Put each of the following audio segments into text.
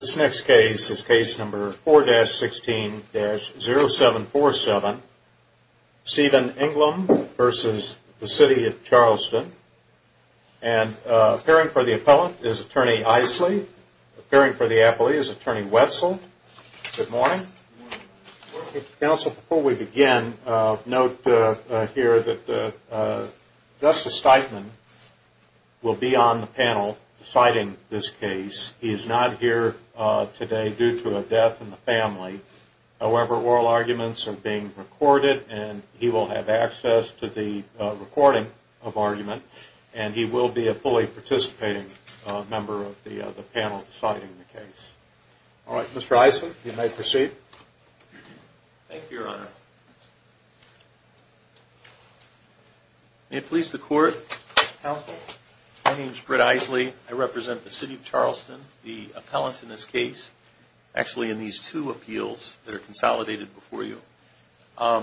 This next case is case number 4-16-0747, Stephen Englum v. The City of Charleston, and appearing for the appellant is Attorney Isley. Appearing for the appellee is Attorney Wetzel. Good morning. Good morning. Counsel, before we begin, note here that Justice Steitman will be on the panel deciding this case today due to a death in the family. However, oral arguments are being recorded, and he will have access to the recording of argument, and he will be a fully participating member of the panel deciding the case. All right, Mr. Isley, you may proceed. Thank you, Your Honor. May it please the Court, Counsel, my name is Britt Isley. I represent the City of Charleston, the appellant in this case, actually in these two appeals that are consolidated before you. I'll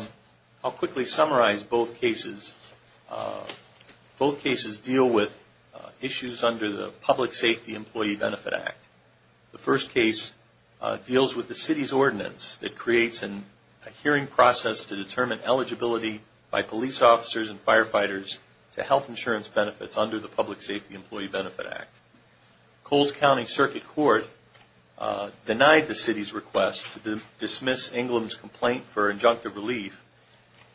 quickly summarize both cases. Both cases deal with issues under the Public Safety Employee Benefit Act. The first case deals with the City's ordinance that creates a hearing process to determine eligibility by police officers and firefighters to health insurance benefits under the Public Safety Employee Benefit Act. Coles County Circuit Court denied the City's request to dismiss Inglom's complaint for injunctive relief.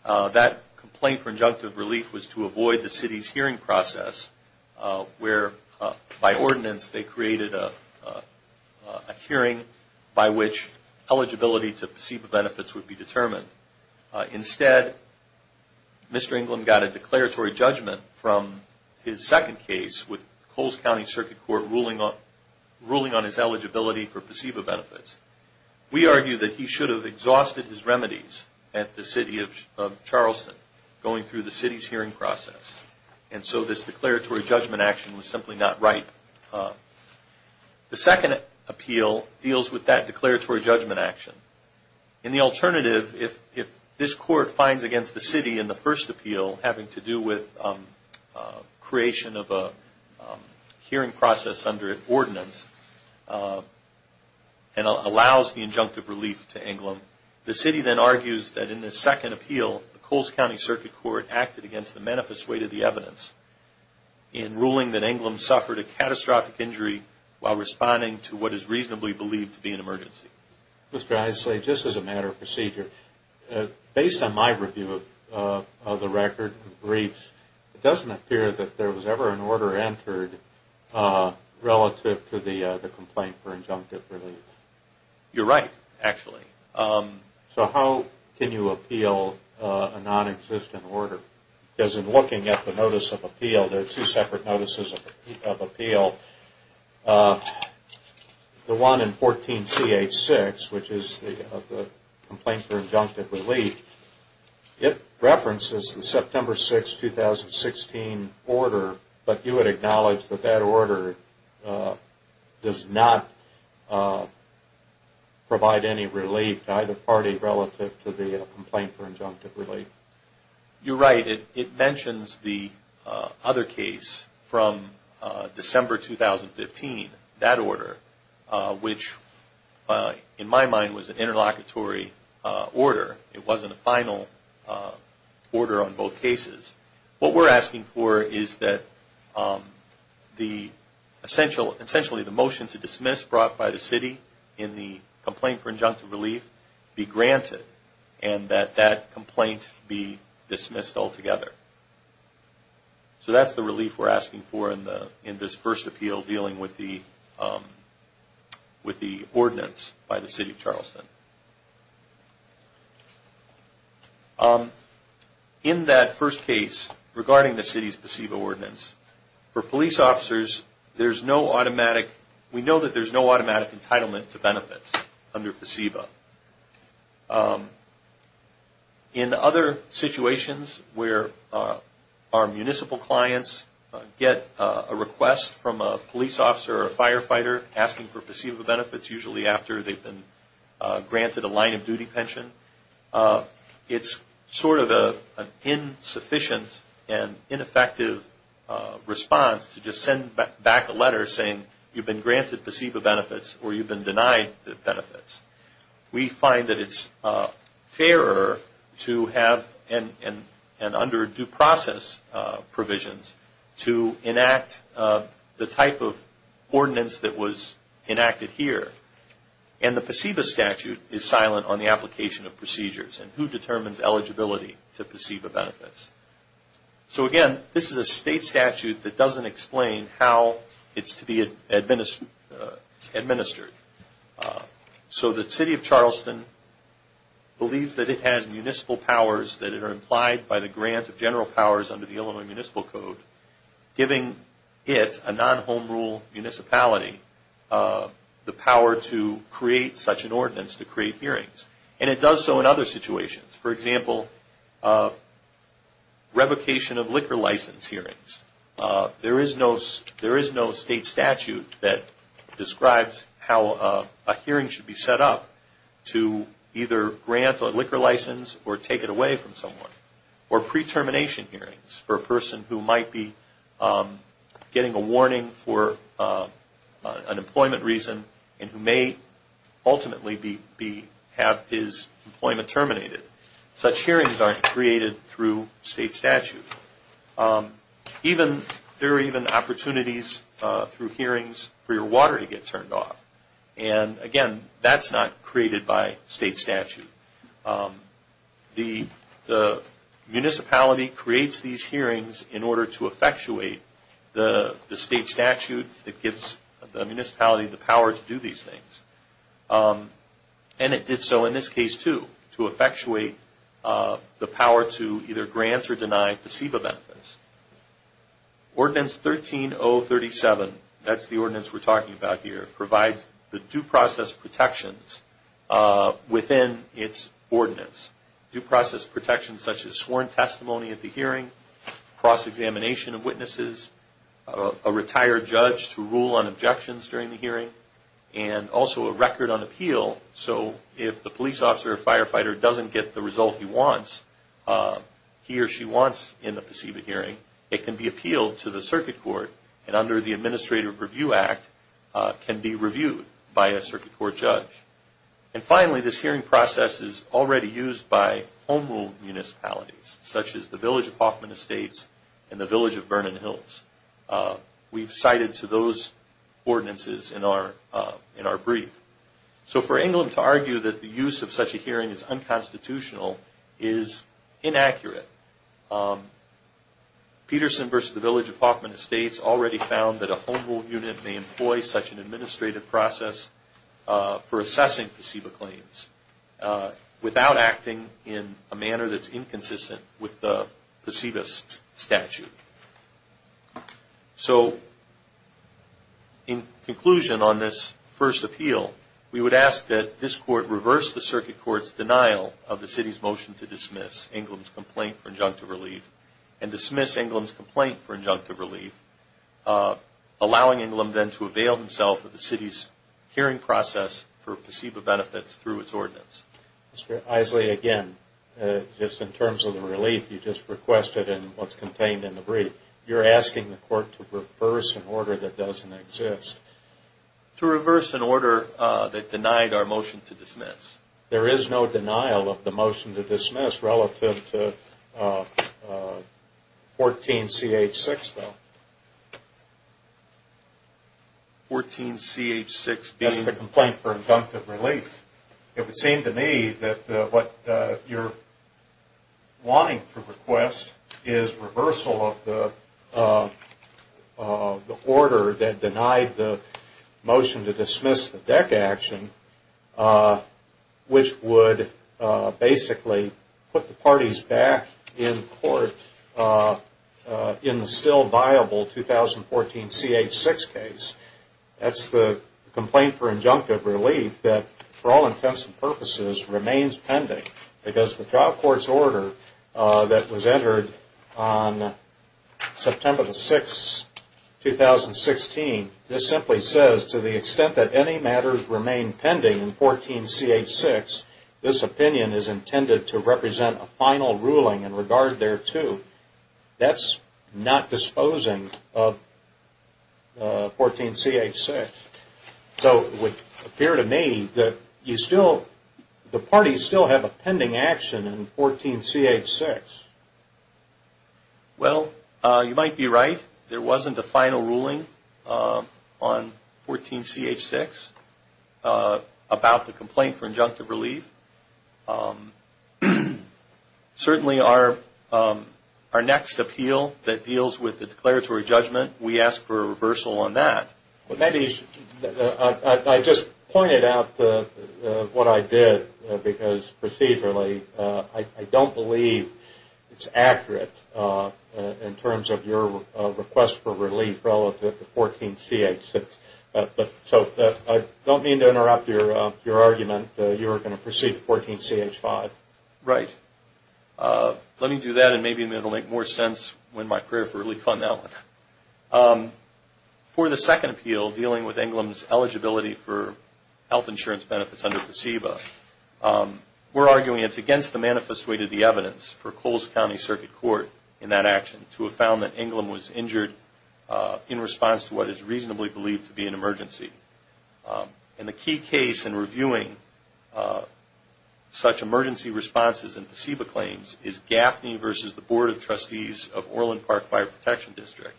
That complaint for injunctive relief was to avoid the City's hearing process, where by ordinance they created a hearing by which eligibility to PSEPA benefits would be determined. Instead, Mr. Inglom got a declaratory judgment from his second case with Coles County Circuit Court ruling on his eligibility for PSEPA benefits. We argue that he should have exhausted his remedies at the City of Charleston going through the City's hearing process, and so this declaratory judgment action was simply not right. The second appeal deals with that declaratory judgment action. In the alternative, if this Court finds against the City in the first appeal having to do with creation of a hearing process under an ordinance and allows the injunctive relief to Inglom, the City then argues that in the second appeal, the Coles County Circuit Court acted against the manifest weight of the evidence in ruling that Inglom suffered a catastrophic injury while responding to what is reasonably believed to be an emergency. Mr. Issa, just as a matter of procedure, based on my review of the record of briefs, it doesn't appear that there was ever an order entered relative to the complaint for injunctive relief. You're right, actually. So how can you appeal a non-existent order? Because in looking at the notice of appeal, there are two separate notices of appeal. The one in 14 CH6, which is the complaint for injunctive relief, it references the September 6, 2016 order, but you would acknowledge that order does not provide any relief to either party relative to the complaint for injunctive relief. You're right. It mentions the other case from December 2015, that order, which in my mind was an interlocutory order. It wasn't a final order on both cases. What we're asking for is that essentially the motion to dismiss brought by the city in the complaint for injunctive relief be granted and that that complaint be dismissed altogether. So that's the relief we're asking for in this first appeal dealing with the ordinance by the city of Charleston. In that first case, regarding the city's PCEVA ordinance, for police officers, we know that there's no automatic entitlement to benefits under PCEVA. In other situations where our municipal clients get a request from a police officer or a line of duty pension, it's sort of an insufficient and ineffective response to just send back a letter saying you've been granted PCEVA benefits or you've been denied the benefits. We find that it's fairer to have and under due process provisions to enact the type of procedures and who determines eligibility to PCEVA benefits. So again, this is a state statute that doesn't explain how it's to be administered. So the city of Charleston believes that it has municipal powers, that it are implied by the grant of general powers under the Illinois Municipal Code, giving it, a non-home rule municipality, the power to create such an ordinance to create hearings. And it does so in other situations. For example, revocation of liquor license hearings. There is no state statute that describes how a hearing should be set up to either grant a liquor license or take it away from someone. Or pre-termination hearings for a person who might be getting a warning for an employment reason and who may ultimately have his employment terminated. Such hearings aren't created through state statute. There are even opportunities through hearings for your water to get turned off. And again, that's not created by state statute. The municipality creates these hearings in order to effectuate the state statute that gives the municipality the power to do these things. And it did so in this case, too, to effectuate the power to either grant or deny PCEVA benefits. Ordinance 13037, that's the ordinance we're talking about here, provides the due process protections within its ordinance. Due process protections such as sworn testimony at the hearing, cross-examination of witnesses, a retired judge to rule on objections during the hearing, and also a record on appeal. So if the police officer or firefighter doesn't get the result he wants, he or she wants in the PCEVA hearing, it can be appealed to the circuit court. And under the Administrative Review Act, can be reviewed by a circuit court judge. And finally, this hearing process is already used by home rule municipalities, such as the Village of Hoffman Estates and the Village of Vernon Hills. We've cited to those ordinances in our brief. So for England to argue that the use of such a hearing is unconstitutional is inaccurate. Peterson versus the Village of Hoffman Estates already found that a home rule unit may employ such an administrative process for assessing PCEVA claims without acting in a manner that's inconsistent with the PCEVA statute. So, in conclusion on this first appeal, we would ask that this court reverse the circuit court's denial of the city's motion to dismiss England's complaint for injunctive relief and dismiss England's complaint for injunctive relief, allowing England then to avail himself of the city's hearing process for PCEVA benefits through its ordinance. Mr. Isley, again, just in terms of the relief you just requested and what's contained in the brief, you're asking the court to reverse an order that doesn't exist. To reverse an order that denied our motion to dismiss. There is no denial of the motion to dismiss relative to 14CH6, though. 14CH6 being? That's the complaint for injunctive relief. It would seem to me that what you're wanting to request is reversal of the order that denied the motion to dismiss the DEC action, which would basically put the parties back in court in the still viable 2014CH6 case. That's the complaint for injunctive relief that, for all intents and purposes, remains pending because the trial court's order that was entered on September the 6th, 2016, this simply says to the extent that any matters remain pending in 14CH6, this opinion is intended to represent a final ruling in regard thereto. That's not disposing of 14CH6. So it would appear to me that the parties still have a pending action in 14CH6. Well, you might be right. There wasn't a final ruling on 14CH6 about the complaint for injunctive relief. Certainly our next appeal that deals with the declaratory judgment, we ask for a reversal on that. I just pointed out what I did because procedurally I don't believe it's accurate in terms of your request for relief relative to 14CH6. So I don't mean to interrupt your argument that you were going to proceed to 14CH5. Right. Let me do that and maybe it will make more sense when my career for relief on that one. For the second appeal dealing with Englom's eligibility for health insurance benefits under PACEBA, we're arguing it's against the manifest way to the evidence for Coles County Circuit Court in that action to have found that Englom was injured in response to what is reasonably believed to be an emergency. And the key case in reviewing such emergency responses and PACEBA claims is Gaffney versus the Board of Trustees of Orland Park Fire Protection District.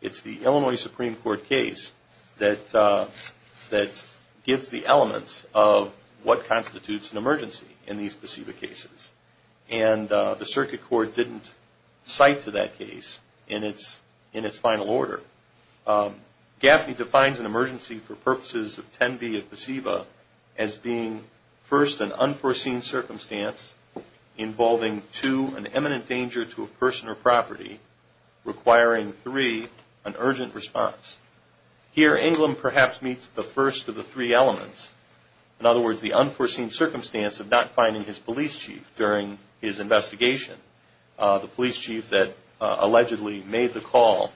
It's the Illinois Supreme Court case that gives the elements of what constitutes an emergency in these PACEBA cases. And the Circuit Court didn't cite to that case in its final order. Gaffney defines an emergency for purposes of 10B of PACEBA as being first an unforeseen circumstance involving two, an imminent danger to a person or property, requiring three, an urgent response. Here, Englom perhaps meets the first of the three elements. In other words, the unforeseen circumstance of not finding his police chief during his investigation, the police chief that allegedly made the call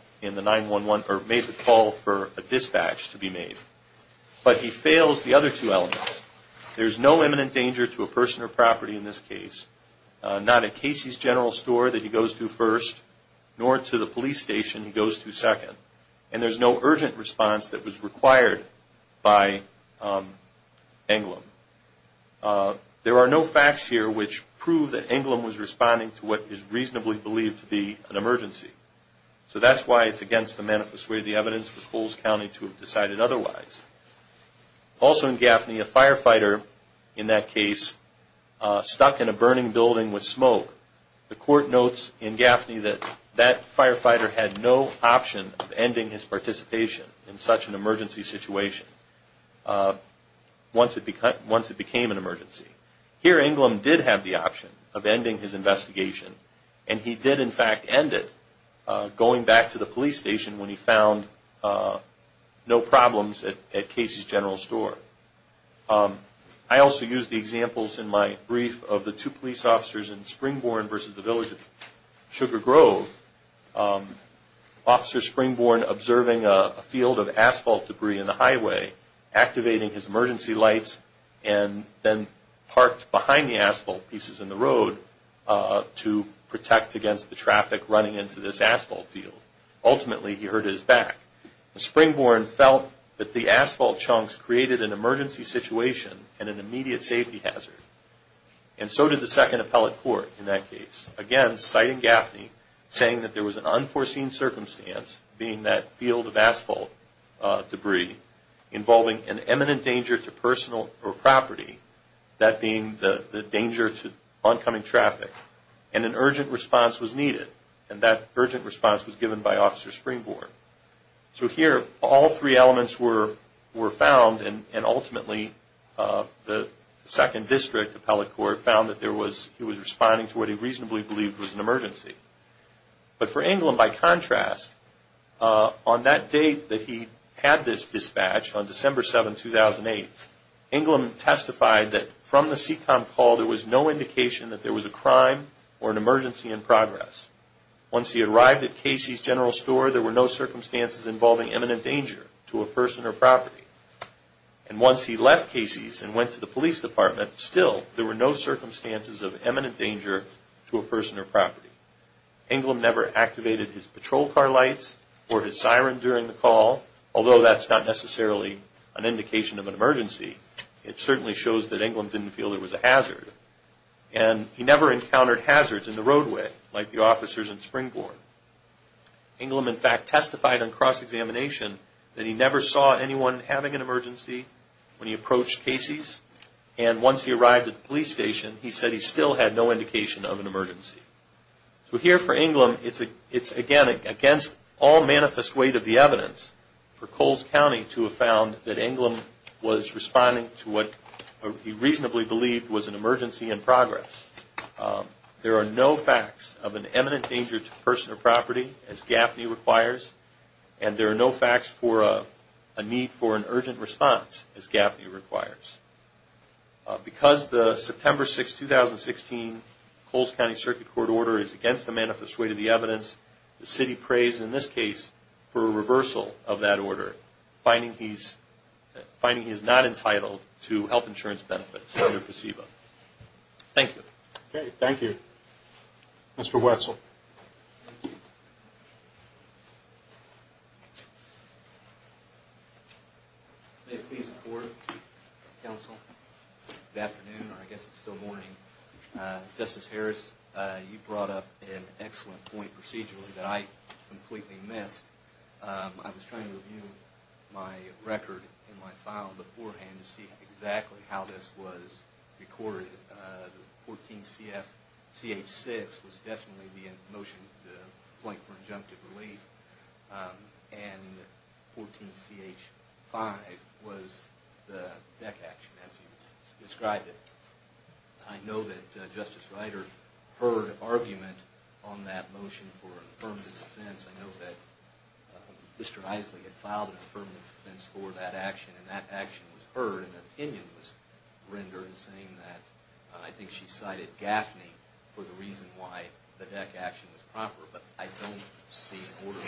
for a dispatch to be made. But he fails the other two elements. There's no imminent danger to a person or property in this case. Not at Casey's General Store that he goes to first, nor to the police station he goes to second. And there's no urgent response that was required by Englom. There are no facts here which prove that Englom was responding to what is reasonably believed to be an emergency. So that's why it's against the manifest way of the evidence for Coles County to have decided otherwise. Also in Gaffney, a firefighter in that case stuck in a burning building with smoke. The court notes in Gaffney that that firefighter had no option of ending his participation in such an emergency situation once it became an emergency. Here, Englom did have the option of ending his investigation. And he did, in fact, end it, going back to the police station when he found no problems at Casey's General Store. I also used the examples in my brief of the two police officers in Springborn versus the village of Sugar Grove. Officer Springborn observing a field of asphalt debris in the highway, activating his emergency lights, and then parked behind the asphalt pieces in the road to protect against the traffic running into this asphalt field. Ultimately, he hurt his back. Springborn felt that the asphalt chunks created an emergency situation and an immediate safety hazard. And so did the second appellate court in that case. Again, citing Gaffney, saying that there was an unforeseen circumstance, being that field of asphalt debris, involving an imminent danger to personal or property, that being the danger to oncoming traffic, and an urgent response was needed. And that urgent response was given by Officer Springborn. So here, all three elements were found, and ultimately, the second district appellate court found that there was, he was responding to what he reasonably believed was an emergency. But for Inglom, by contrast, on that date that he had this dispatch, on December 7, 2008, Inglom testified that from the CTOM call, there was no indication that there was a crime or an emergency in progress. Once he arrived at Casey's General Store, there were no circumstances involving imminent danger to a person or property. And once he left Casey's and went to the police department, still, there were no circumstances of imminent danger to a person or property. Inglom never activated his patrol car lights or his siren during the call, although that's not necessarily an indication of an emergency. It certainly shows that Inglom didn't feel there was a hazard. And he never encountered hazards in the roadway, like the officers in Springborn. Inglom, in fact, testified on cross-examination that he never saw anyone having an emergency when he approached Casey's. And once he arrived at the police station, he said he still had no indication of an emergency. So here for Inglom, it's, again, against all manifest weight of the evidence for Coles County to have found that Inglom was responding to what he reasonably believed was an emergency in progress. There are no facts of an imminent danger to a person or property, as GAFNI requires, and there are no facts for a need for an urgent response, as GAFNI requires. Because the September 6, 2016, Coles County Circuit Court order is against the manifest weight of the evidence, the city prays in this case for a reversal of that order, finding he is not entitled to health insurance benefits under PCEBA. Thank you. Okay, thank you. Mr. Wetzel. May it please the Court, Counsel, good afternoon, or I guess it's still morning. Justice Harris, you brought up an excellent point procedurally that I completely missed. I was trying to review my record in my file beforehand to see exactly how this was recorded. 14CH6 was definitely the motion, the complaint for injunctive relief, and 14CH5 was the deck action as you described it. I know that Justice Ryder heard argument on that motion for affirmative defense. I know that Mr. Isley had filed an affirmative defense for that action, and that action was heard, and an opinion was rendered saying that, I think she cited GAFNI for the reason why the deck action was proper, but I don't see an order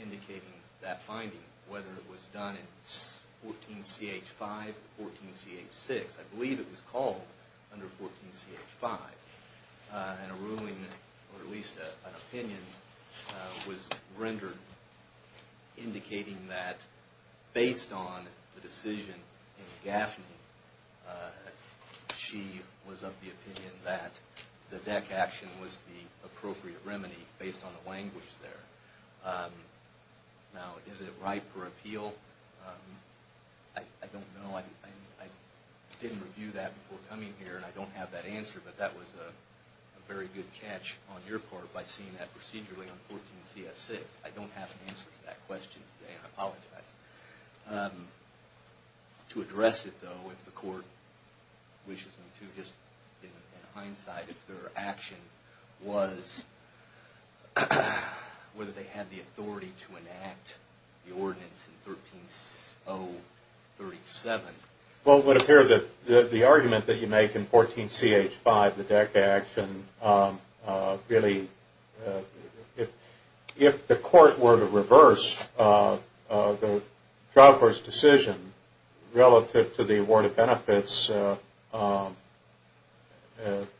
indicating that finding, whether it was done in 14CH5 or 14CH6. I believe it was called under 14CH5, and a ruling, or at least an opinion, was rendered indicating that based on the decision in GAFNI, she was of the opinion that the deck action was the appropriate remedy based on the language there. Now, is it right for appeal? I don't know. I didn't review that before coming here, and I don't have that answer, but that was a very good catch on your part by seeing that procedure late on 14CH6. I don't have an answer to that question today, and I apologize. To address it, though, if the court wishes me to, in hindsight, if their action was whether they had the authority to enact the ordinance in 13037. Well, it would appear that the argument that you make in 14CH5, the deck action, really, if the court were to reverse the trial court's decision relative to the award of benefits,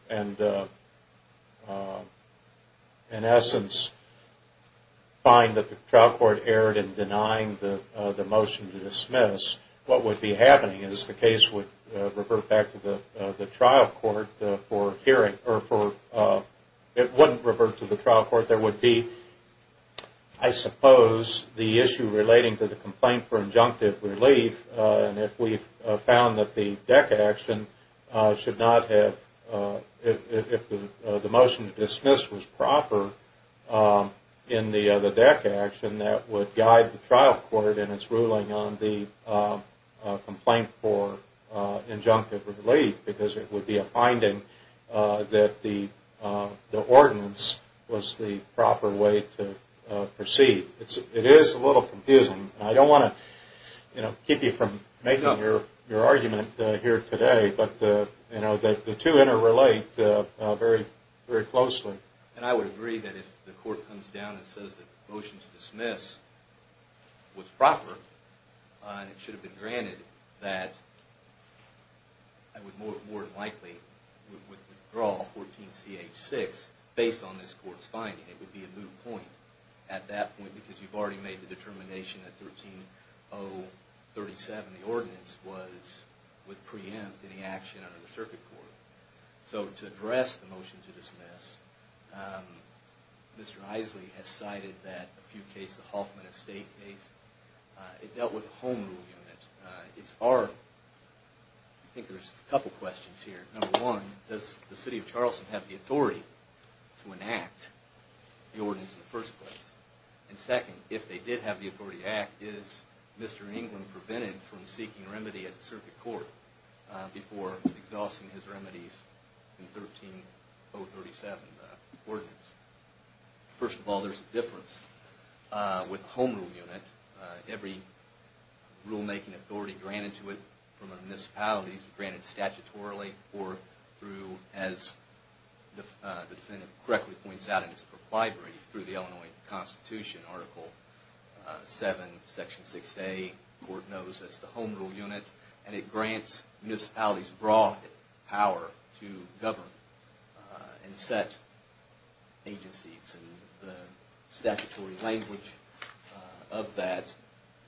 and, in essence, find that the trial court erred in denying the motion to dismiss, what would be happening is the case would revert back to the trial court for hearing, or it wouldn't revert to the trial court. There would be, I suppose, the issue relating to the complaint for injunctive relief, and if we found that the motion to dismiss was proper in the deck action, that would guide the trial court in its ruling on the complaint for injunctive relief, because it would be a finding that the ordinance was the proper way to proceed. It is a little confusing. I don't want to keep you from making your argument here today, but the two interrelate very closely. And I would agree that if the court comes down and says that the motion to dismiss was proper, it should have been granted that I would more than likely withdraw 14CH6 based on this court's finding. It would be a moot point at that point, because you've already made the determination that 13037, the ordinance, would preempt any action under the circuit court. So to address the motion to dismiss, Mr. Isley has cited a few cases, the Hoffman Estate case. It dealt with a home rule unit. I think there's a couple questions here. Number one, does the city of Charleston have the authority to enact the ordinance in the first place? And second, if they did have the authority to act, is Mr. England prevented from seeking remedy at the circuit court before exhausting his remedies in 13037? First of all, there's a difference. With a home rule unit, every rulemaking authority granted to it from a municipality is granted statutorily or through, as the defendant correctly points out in his proclivity, through the Illinois Constitution, Article 7, Section 6A. The court knows it's the home rule unit, and it grants municipalities broad power to govern and set agencies. The statutory language of that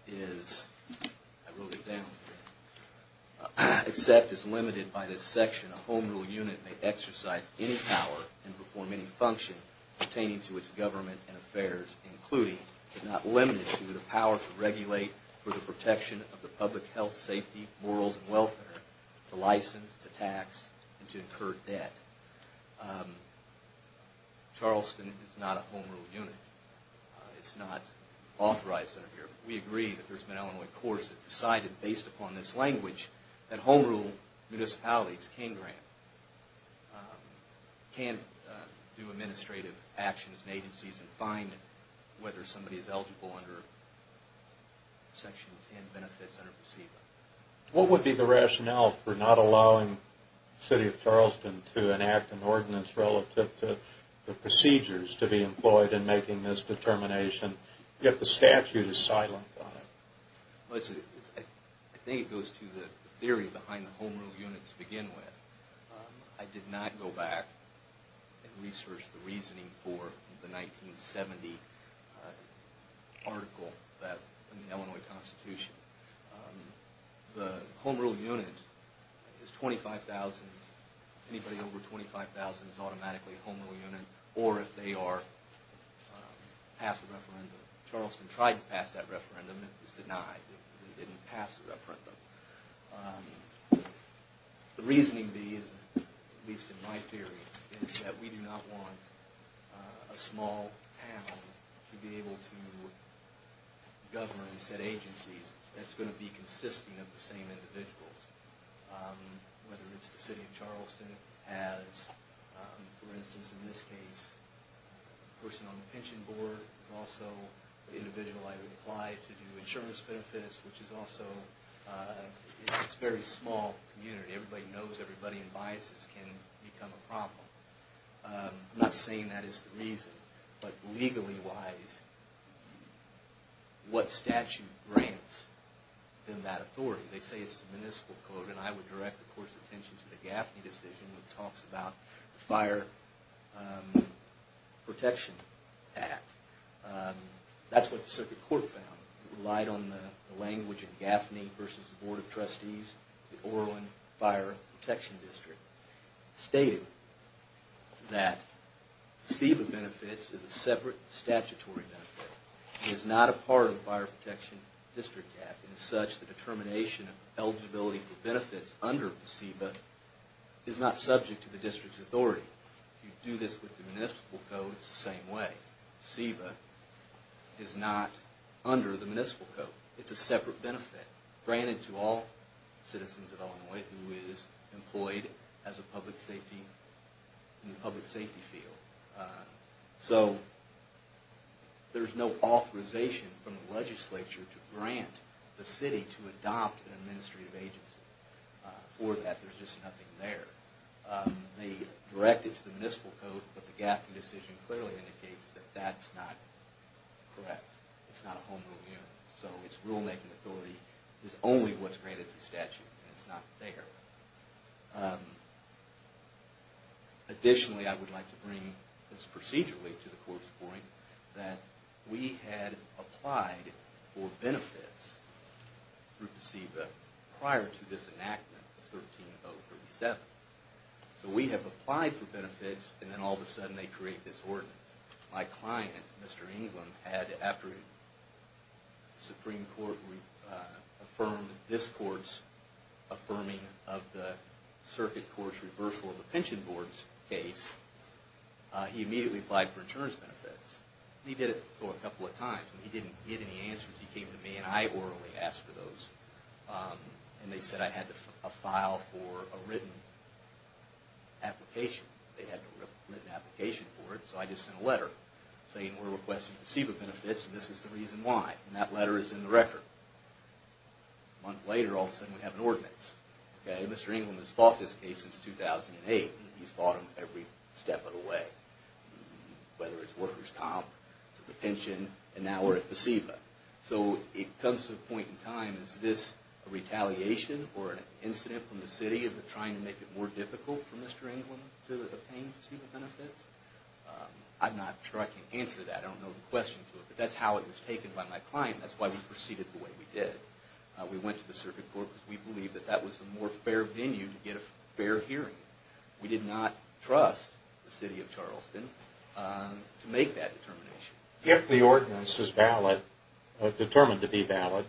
is, I wrote it down, except as limited by this section, a home rule unit may exercise any power and perform any function pertaining to its government and affairs, including, if not limited to, the power to regulate for the protection of the public health, safety, morals, and welfare, to license, to tax, and to incur debt. But Charleston is not a home rule unit. It's not authorized under here. We agree that there's been Illinois courts that decided, based upon this language, that home rule municipalities can grant, can do administrative actions and agencies, and find whether somebody is eligible under Section 10, Benefits Under Procedure. What would be the rationale for not allowing the city of Charleston to enact an ordinance relative to the procedures to be employed in making this determination, yet the statute is silent on it? I think it goes to the theory behind the home rule unit to begin with. I did not go back and research the reasoning for the 1970 article in the Illinois Constitution. The home rule unit is $25,000. Anybody over $25,000 is automatically a home rule unit, or if they are, pass a referendum. Charleston tried to pass that referendum. It was denied. They didn't pass the referendum. The reasoning, at least in my theory, is that we do not want a small town to be able to govern said agencies that's going to be consisting of the same individuals, whether it's the city of Charleston has, for instance, in this case, a person on the pension board is also an individual I would apply to do insurance benefits, which is also a very small community. Everybody knows everybody, and biases can become a problem. I'm not saying that is the reason, but legally-wise, what statute grants them that authority? They say it's the municipal code, and I would direct, of course, attention to the Gaffney decision that talks about the Fire Protection Act. That's what the circuit court found. It relied on the language of Gaffney versus the Board of Trustees, the Orland Fire Protection District. It stated that SEBA benefits is a separate statutory benefit. It is not a part of the Fire Protection District Act. As such, the determination of eligibility for benefits under SEBA is not subject to the district's authority. You do this with the municipal code, it's the same way. SEBA is not under the municipal code. It's somebody who is employed in the public safety field. So there's no authorization from the legislature to grant the city to adopt an administrative agency. For that, there's just nothing there. They direct it to the municipal code, but the Gaffney decision clearly indicates that that's not correct. It's not a home rule. So its rulemaking authority is only what's granted through statute, and it's not there. Additionally, I would like to bring this procedurally to the court's point that we had applied for benefits through SEBA prior to this enactment of 13037. So we have applied for benefits, and then all of a sudden they create this ordinance. My client, Mr. England, after the Supreme Court affirmed this court's affirming of the circuit court's reversal of the pension board's case, he immediately applied for insurance benefits. He did it a couple of times, but he didn't get any answers. He came to me and I orally asked for those, and they said I had to file for a written application. They had to write an application for it, so I just sent a letter saying we're requesting SEBA benefits, and this is the reason why. And that letter is in the record. A month later, all of a sudden we have an ordinance. Mr. England has fought this case since 2008. He's fought them every step of the way, whether it's workers' comp, the pension, and now we're at SEBA. So it comes to a point in time, is this a retaliation or an incident from the city of trying to make it more difficult for Mr. England to obtain SEBA benefits? I'm not sure I can answer that. I don't know the question to it, but that's how it was taken by my client. That's why we proceeded the way we did. We went to the circuit court because we believed that that was the more fair venue to get a fair hearing. We did not trust the city of Charleston to make that determination. If the ordinance is valid, determined to be valid,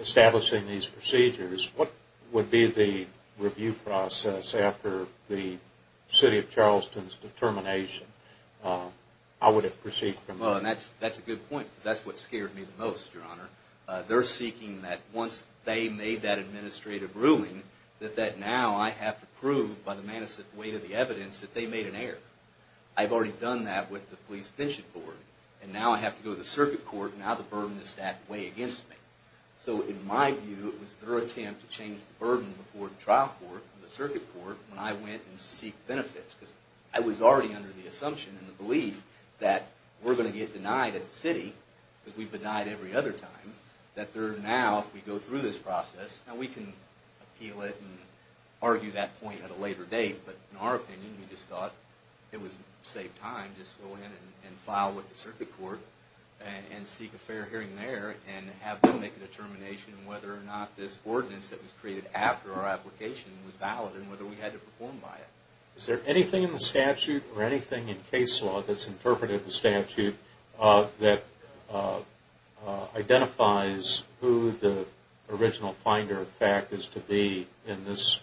establishing these procedures, what would be the review process after the city of Charleston's determination? How would it proceed from there? That's a good point. That's what scared me the most, Your Honor. They're seeking that once they made that administrative ruling, that now I have to prove, by the manifest way of the evidence, that they made an error. I've already done that with the police finching board. Now I have to go to the circuit court. Now the burden is stacked way against me. In my view, it was their attempt to change the burden before the trial court, the circuit court, when I went and seeked benefits. I was already under the assumption and the belief that we're going to get denied at the city, because we've been denied every other time, that now if we go through this process, we can appeal it and argue that point at a later date. But in our opinion, we just thought it would save time to go in and file with the circuit court and seek a fair hearing there and have them make a determination whether or not this ordinance that was created after our application was valid and whether we had to perform by it. Is there anything in the statute or anything in case law that's interpreted in the statute that identifies who the original finder of fact is to be in this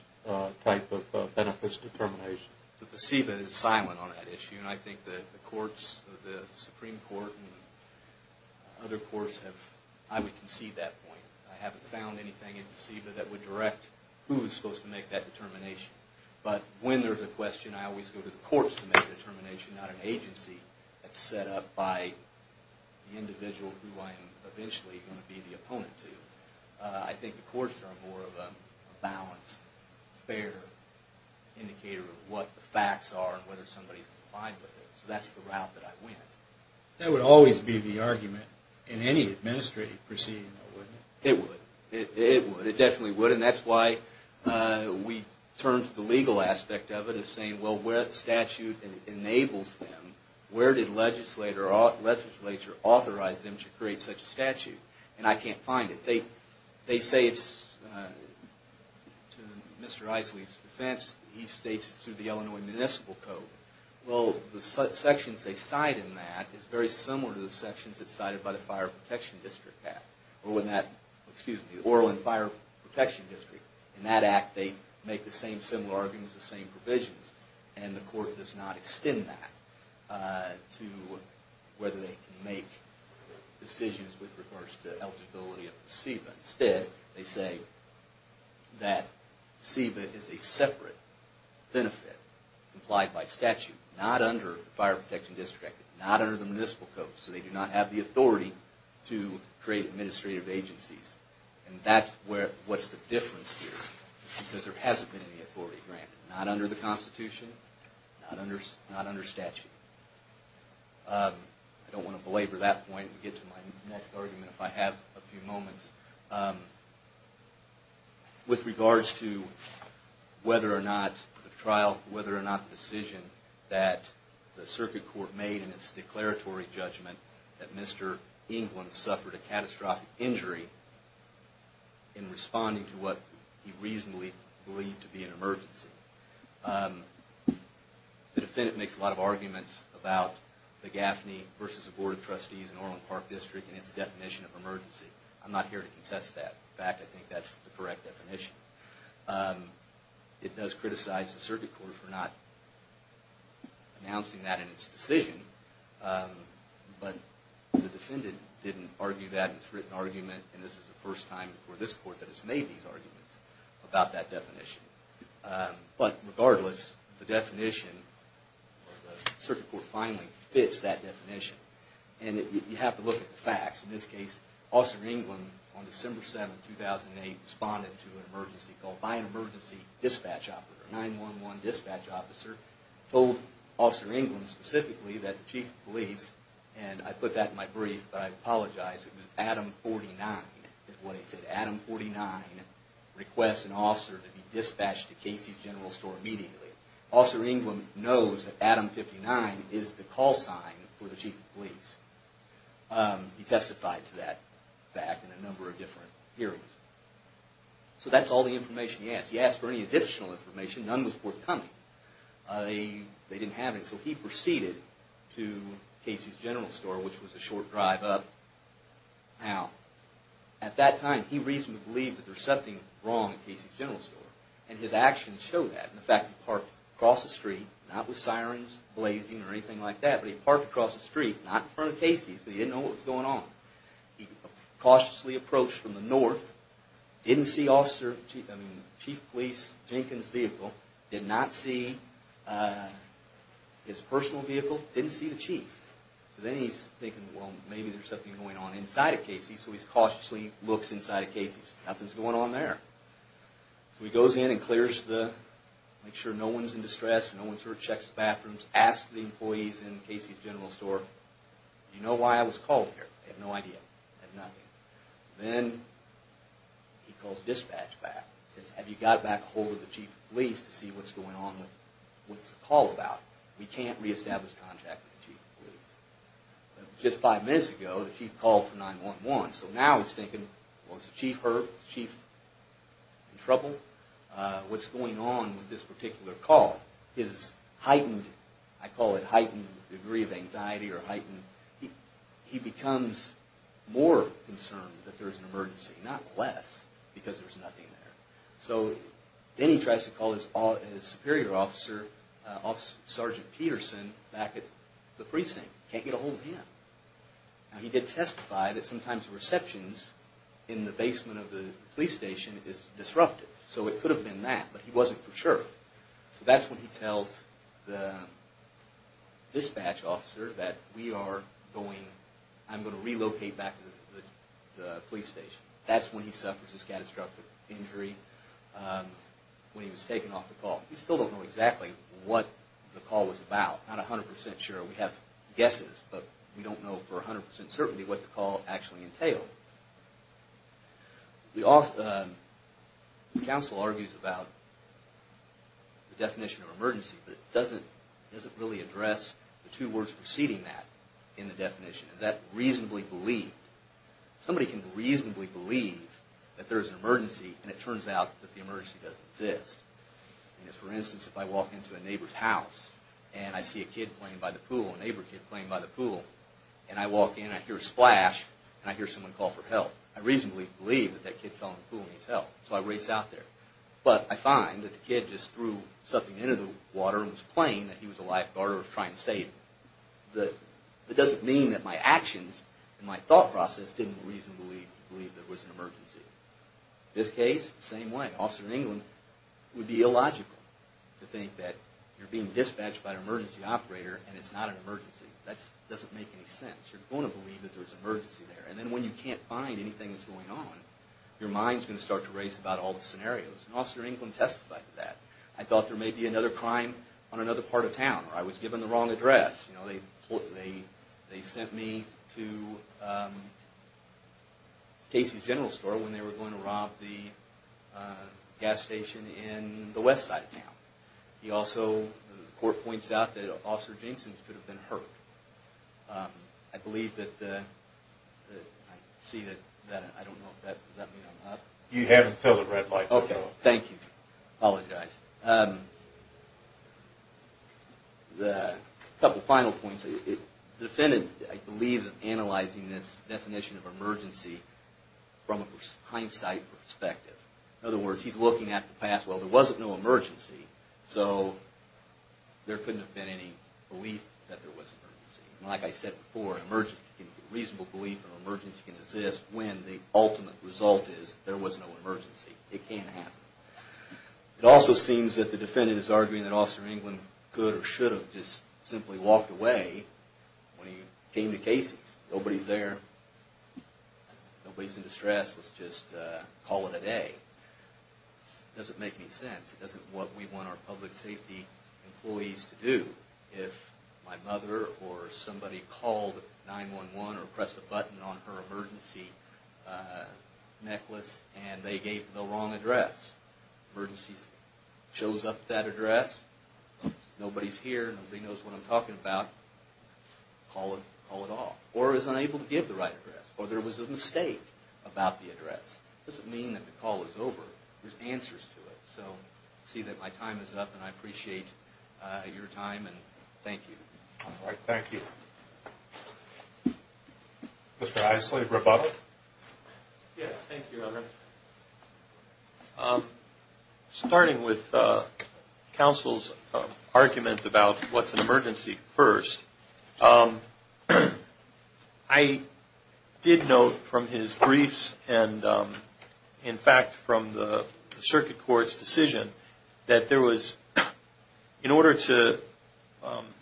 type of benefits determination? The CEBA is silent on that issue. I think that the courts, the Supreme Court and other courts, I would concede that point. I haven't found anything in the CEBA that would direct who is supposed to make that determination. But when there's a question, I always go to the courts to make a determination, not an agency that's set up by the individual who I'm eventually going to be the opponent to. I think the courts are more of a balanced, fair indicator of what the facts are and whether somebody's complied with it. So that's the route that I went. That would always be the argument in any administrative proceeding, though, wouldn't it? It would. It definitely would. And that's why we turned to the legal aspect of it and saying, well, where the statute enables them, where did legislature authorize them to create such a statute? And I can't find it. They say it's to Mr. Isley's defense. He states it's through the Illinois Municipal Code. Well, the sections they cite in that is very similar to the sections that are cited by the Fire Protection District Act. Excuse me, the Orland Fire Protection District. In that act, they make the same similar arguments, the same provisions, and the court does not extend that to whether they can make decisions with regards to eligibility of the SEBA. Instead, they say that SEBA is a separate benefit complied by statute, not under the Fire Protection District Act, not under the Municipal Code. So they do not have the authority to create administrative agencies. And that's what's the difference here, because there hasn't been any authority granted, not under the Constitution, not under statute. I don't want to belabor that point and get to my next argument if I have a few moments. With regards to whether or not the trial, whether or not the decision that the circuit court made in its declaratory judgment that Mr. England suffered a catastrophic injury in responding to what he reasonably believed to be an emergency, the defendant makes a lot of arguments about the Gaffney versus the Board of Trustees in Orland Park District and its definition of emergency. I'm not here to contest that. In fact, I think that's the correct definition. It does criticize the circuit court for not announcing that in its decision, but the defendant didn't argue that in its written argument, and this is the first time for this court that has made these arguments about that definition. But regardless, the definition, the circuit court finally fits that definition. And you have to look at the facts. In this case, Officer England, on December 7, 2008, responded to an emergency called by an emergency dispatch officer, a 911 dispatch officer, told Officer England specifically that the chief of police, and I put that in my brief, but I apologize, it was Adam 49 is what he said. Adam 49 requests an officer to be dispatched to Casey's General Store immediately. Officer England knows that Adam 59 is the call sign for the chief of police. He testified to that fact in a number of different hearings. So that's all the information he asked. He asked for any additional information. None was forthcoming. They didn't have any. So he proceeded to Casey's General Store, which was a short drive up. Now, at that time, he reasonably believed that there was something wrong at Casey's General Store, and his actions showed that. In fact, he parked across the street, not with sirens blazing or anything like that, but he parked across the street, not in front of Casey's, but he didn't know what was going on. He cautiously approached from the north, didn't see Chief Police Jenkins' vehicle, did not see his personal vehicle, didn't see the chief. So then he's thinking, well, maybe there's something going on inside of Casey's, so he cautiously looks inside of Casey's. Nothing's going on there. So he goes in and clears the, makes sure no one's in distress, no one's hurt, checks the bathrooms, asks the employees in Casey's General Store, do you know why I was called here? They have no idea. They have nothing. Then he calls dispatch back and says, have you got back a hold of the chief of police to see what's going on with what's the call about? We can't reestablish contact with the chief of police. Just five minutes ago, the chief called for 911. So now he's thinking, well, is the chief hurt? Is the chief in trouble? What's going on with this particular call? His heightened, I call it heightened degree of anxiety or heightened, he becomes more concerned that there's an emergency, not less, because there's nothing there. So then he tries to call his superior officer, Sergeant Peterson, back at the precinct. Can't get a hold of him. Now, he did testify that sometimes the receptions in the basement of the police station is disrupted, so it could have been that, but he wasn't for sure. So that's when he tells the dispatch officer that we are going, I'm going to relocate back to the police station. That's when he suffers a scatastrophic injury when he was taken off the call. We still don't know exactly what the call was about, not 100% sure. We have guesses, but we don't know for 100% certainty what the call actually entailed. The counsel argues about the definition of emergency, but doesn't really address the two words preceding that in the definition. Is that reasonably believed? Somebody can reasonably believe that there's an emergency, and it turns out that the emergency doesn't exist. For instance, if I walk into a neighbor's house, and I see a kid playing by the pool, a neighbor kid playing by the pool, and I walk in, I hear a splash, and I hear someone call for help. I reasonably believe that that kid fell in the pool and needs help, so I race out there. But I find that the kid just threw something into the water and was playing, that he was a lifeguard or was trying to save him. That doesn't mean that my actions and my thought process didn't reasonably believe there was an emergency. This case, same way. An officer in England would be illogical to think that you're being dispatched by an emergency operator and it's not an emergency. That doesn't make any sense. You're going to believe that there's an emergency there, and then when you can't find anything that's going on, your mind's going to start to race about all the scenarios. An officer in England testified to that. I thought there may be another crime on another part of town, or I was given the wrong address. They sent me to Casey's General Store when they were going to rob the gas station in the west side of town. The court points out that Officer Jenksins could have been hurt. I believe that, I see that, I don't know, does that mean I'm up? You have until the red light. Okay, thank you. I apologize. A couple final points. The defendant, I believe, is analyzing this definition of emergency from a hindsight perspective. In other words, he's looking at the past. Well, there wasn't no emergency, so there couldn't have been any belief that there was an emergency. Like I said before, a reasonable belief of an emergency can exist when the ultimate result is there was no emergency. It can't happen. It also seems that the defendant is arguing that Officer England could or should have just simply walked away when he came to Casey's. Nobody's there. Nobody's in distress. Let's just call it a day. It doesn't make any sense. It isn't what we want our public safety employees to do. If my mother or somebody called 9-1-1 or pressed a button on her emergency necklace and they gave the wrong address, emergency shows up at that address, nobody's here, nobody knows what I'm talking about, call it off. Or is unable to give the right address. Or there was a mistake about the address. It doesn't mean that the call is over. There's answers to it. So I see that my time is up, and I appreciate your time, and thank you. All right, thank you. Mr. Isley, rebuttal? Yes, thank you, Heather. Starting with counsel's argument about what's an emergency first, I did note from his briefs and, in fact, from the circuit court's decision, that there was, in order to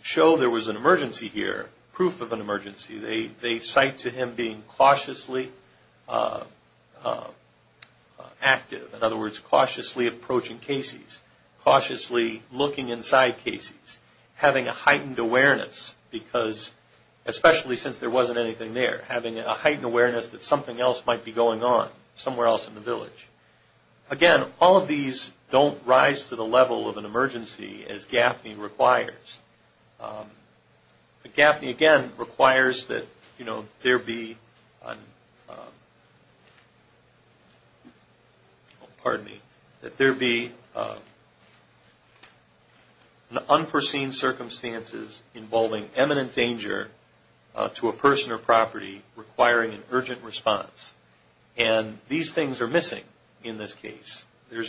show there was an emergency here, proof of an emergency, they cite to him being cautiously active. In other words, cautiously approaching cases, cautiously looking inside cases, having a heightened awareness because, especially since there wasn't anything there, having a heightened awareness that something else might be going on somewhere else in the village. Again, all of these don't rise to the level of an emergency as GAFNI requires. But GAFNI, again, requires that there be an unforeseen circumstances involving eminent danger to a person or property requiring an urgent response. And these things are missing in this case. I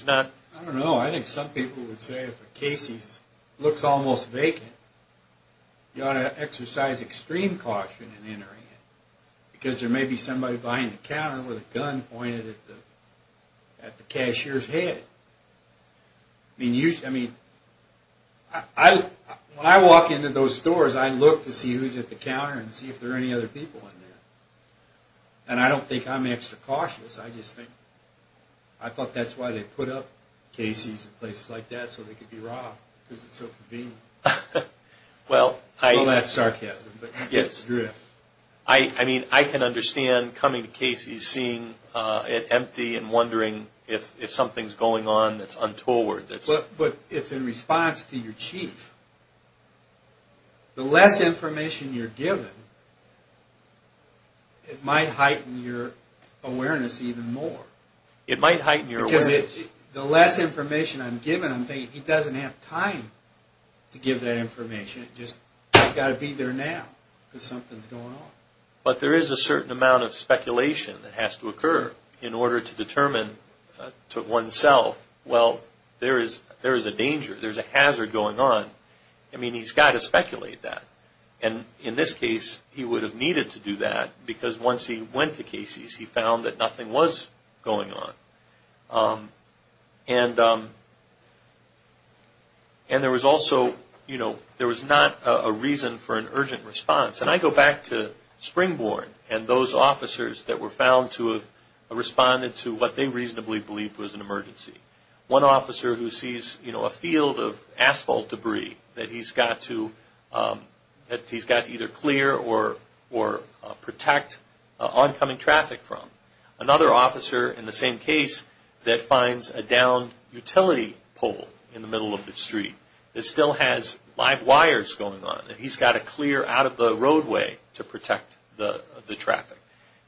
don't know. I think some people would say if a case looks almost vacant, you ought to exercise extreme caution in entering it because there may be somebody behind the counter with a gun pointed at the cashier's head. I mean, when I walk into those stores, I look to see who's at the counter and see if there are any other people in there, and I don't think I'm extra cautious. I just think I thought that's why they put up cases in places like that so they could be robbed because it's so convenient. Well, that's sarcasm. Yes. I mean, I can understand coming to cases, seeing it empty, and wondering if something's going on that's untoward. But it's in response to your chief. The less information you're given, it might heighten your awareness even more. It might heighten your awareness. Because the less information I'm given, I'm thinking, he doesn't have time to give that information. It's just, I've got to be there now because something's going on. But there is a certain amount of speculation that has to occur in order to determine to oneself, well, there is a danger, there's a hazard going on. I mean, he's got to speculate that. And in this case, he would have needed to do that because once he went to cases, he found that nothing was going on. And there was also, you know, there was not a reason for an urgent response. And I go back to Springborn and those officers that were found to have responded to what they reasonably believed was an emergency. One officer who sees, you know, a field of asphalt debris that he's got to either clear or protect oncoming traffic from. Another officer in the same case that finds a downed utility pole in the middle of the street that still has live wires going on. He's got to clear out of the roadway to protect the traffic.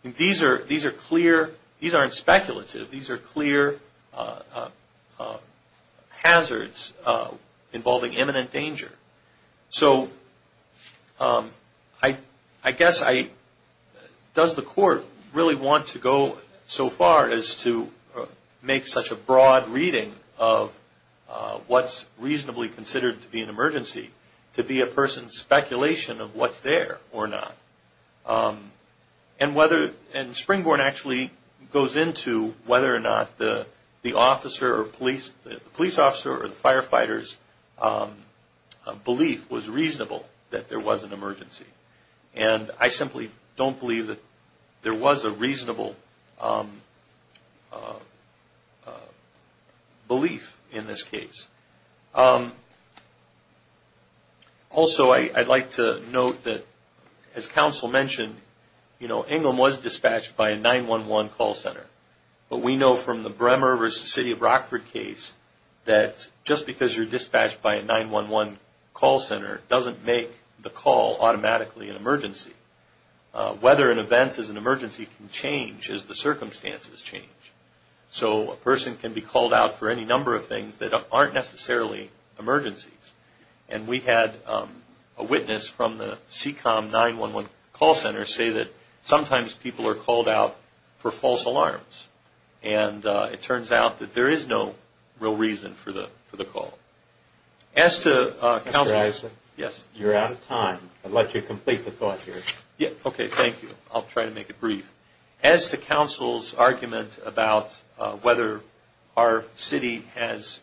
These are clear, these aren't speculative, these are clear hazards involving imminent danger. So I guess I, does the court really want to go so far as to make such a broad reading of what's reasonably considered to be an emergency to be a person's speculation of what's there or not? And whether, and Springborn actually goes into whether or not the officer or police, the police officer or the firefighters belief was reasonable that there was an emergency. And I simply don't believe that there was a reasonable belief in this case. Also, I'd like to note that as counsel mentioned, you know, Ingham was dispatched by a 911 call center. But we know from the Bremer v. City of Rockford case that just because you're dispatched by a 911 call center doesn't make the call automatically an emergency. Whether an event is an emergency can change as the circumstances change. So a person can be called out for any number of things that aren't necessarily emergencies. And we had a witness from the CCOM 911 call center say that sometimes people are called out for false alarms. And it turns out that there is no real reason for the call. As to counsel, yes. You're out of time. I'd like you to complete the thought here. Okay, thank you. I'll try to make it brief. As to counsel's argument about whether our city has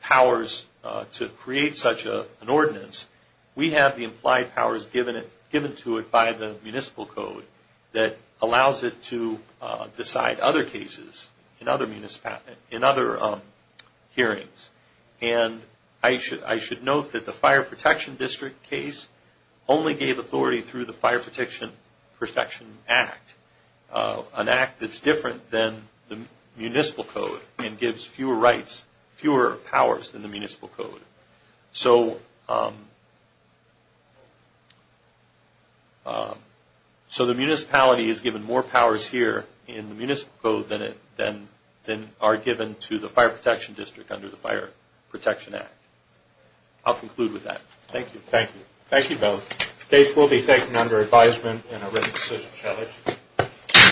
powers to create such an ordinance, we have the implied powers given to it by the municipal code that allows it to decide other cases in other hearings. And I should note that the Fire Protection District case only gave authority through the Fire Protection Act. An act that's different than the municipal code and gives fewer rights, fewer powers than the municipal code. So the municipality is given more powers here in the municipal code than are given to the Fire Protection District under the Fire Protection Act. I'll conclude with that. Thank you. Thank you both. The case will be taken under advisement and a written decision shall issue.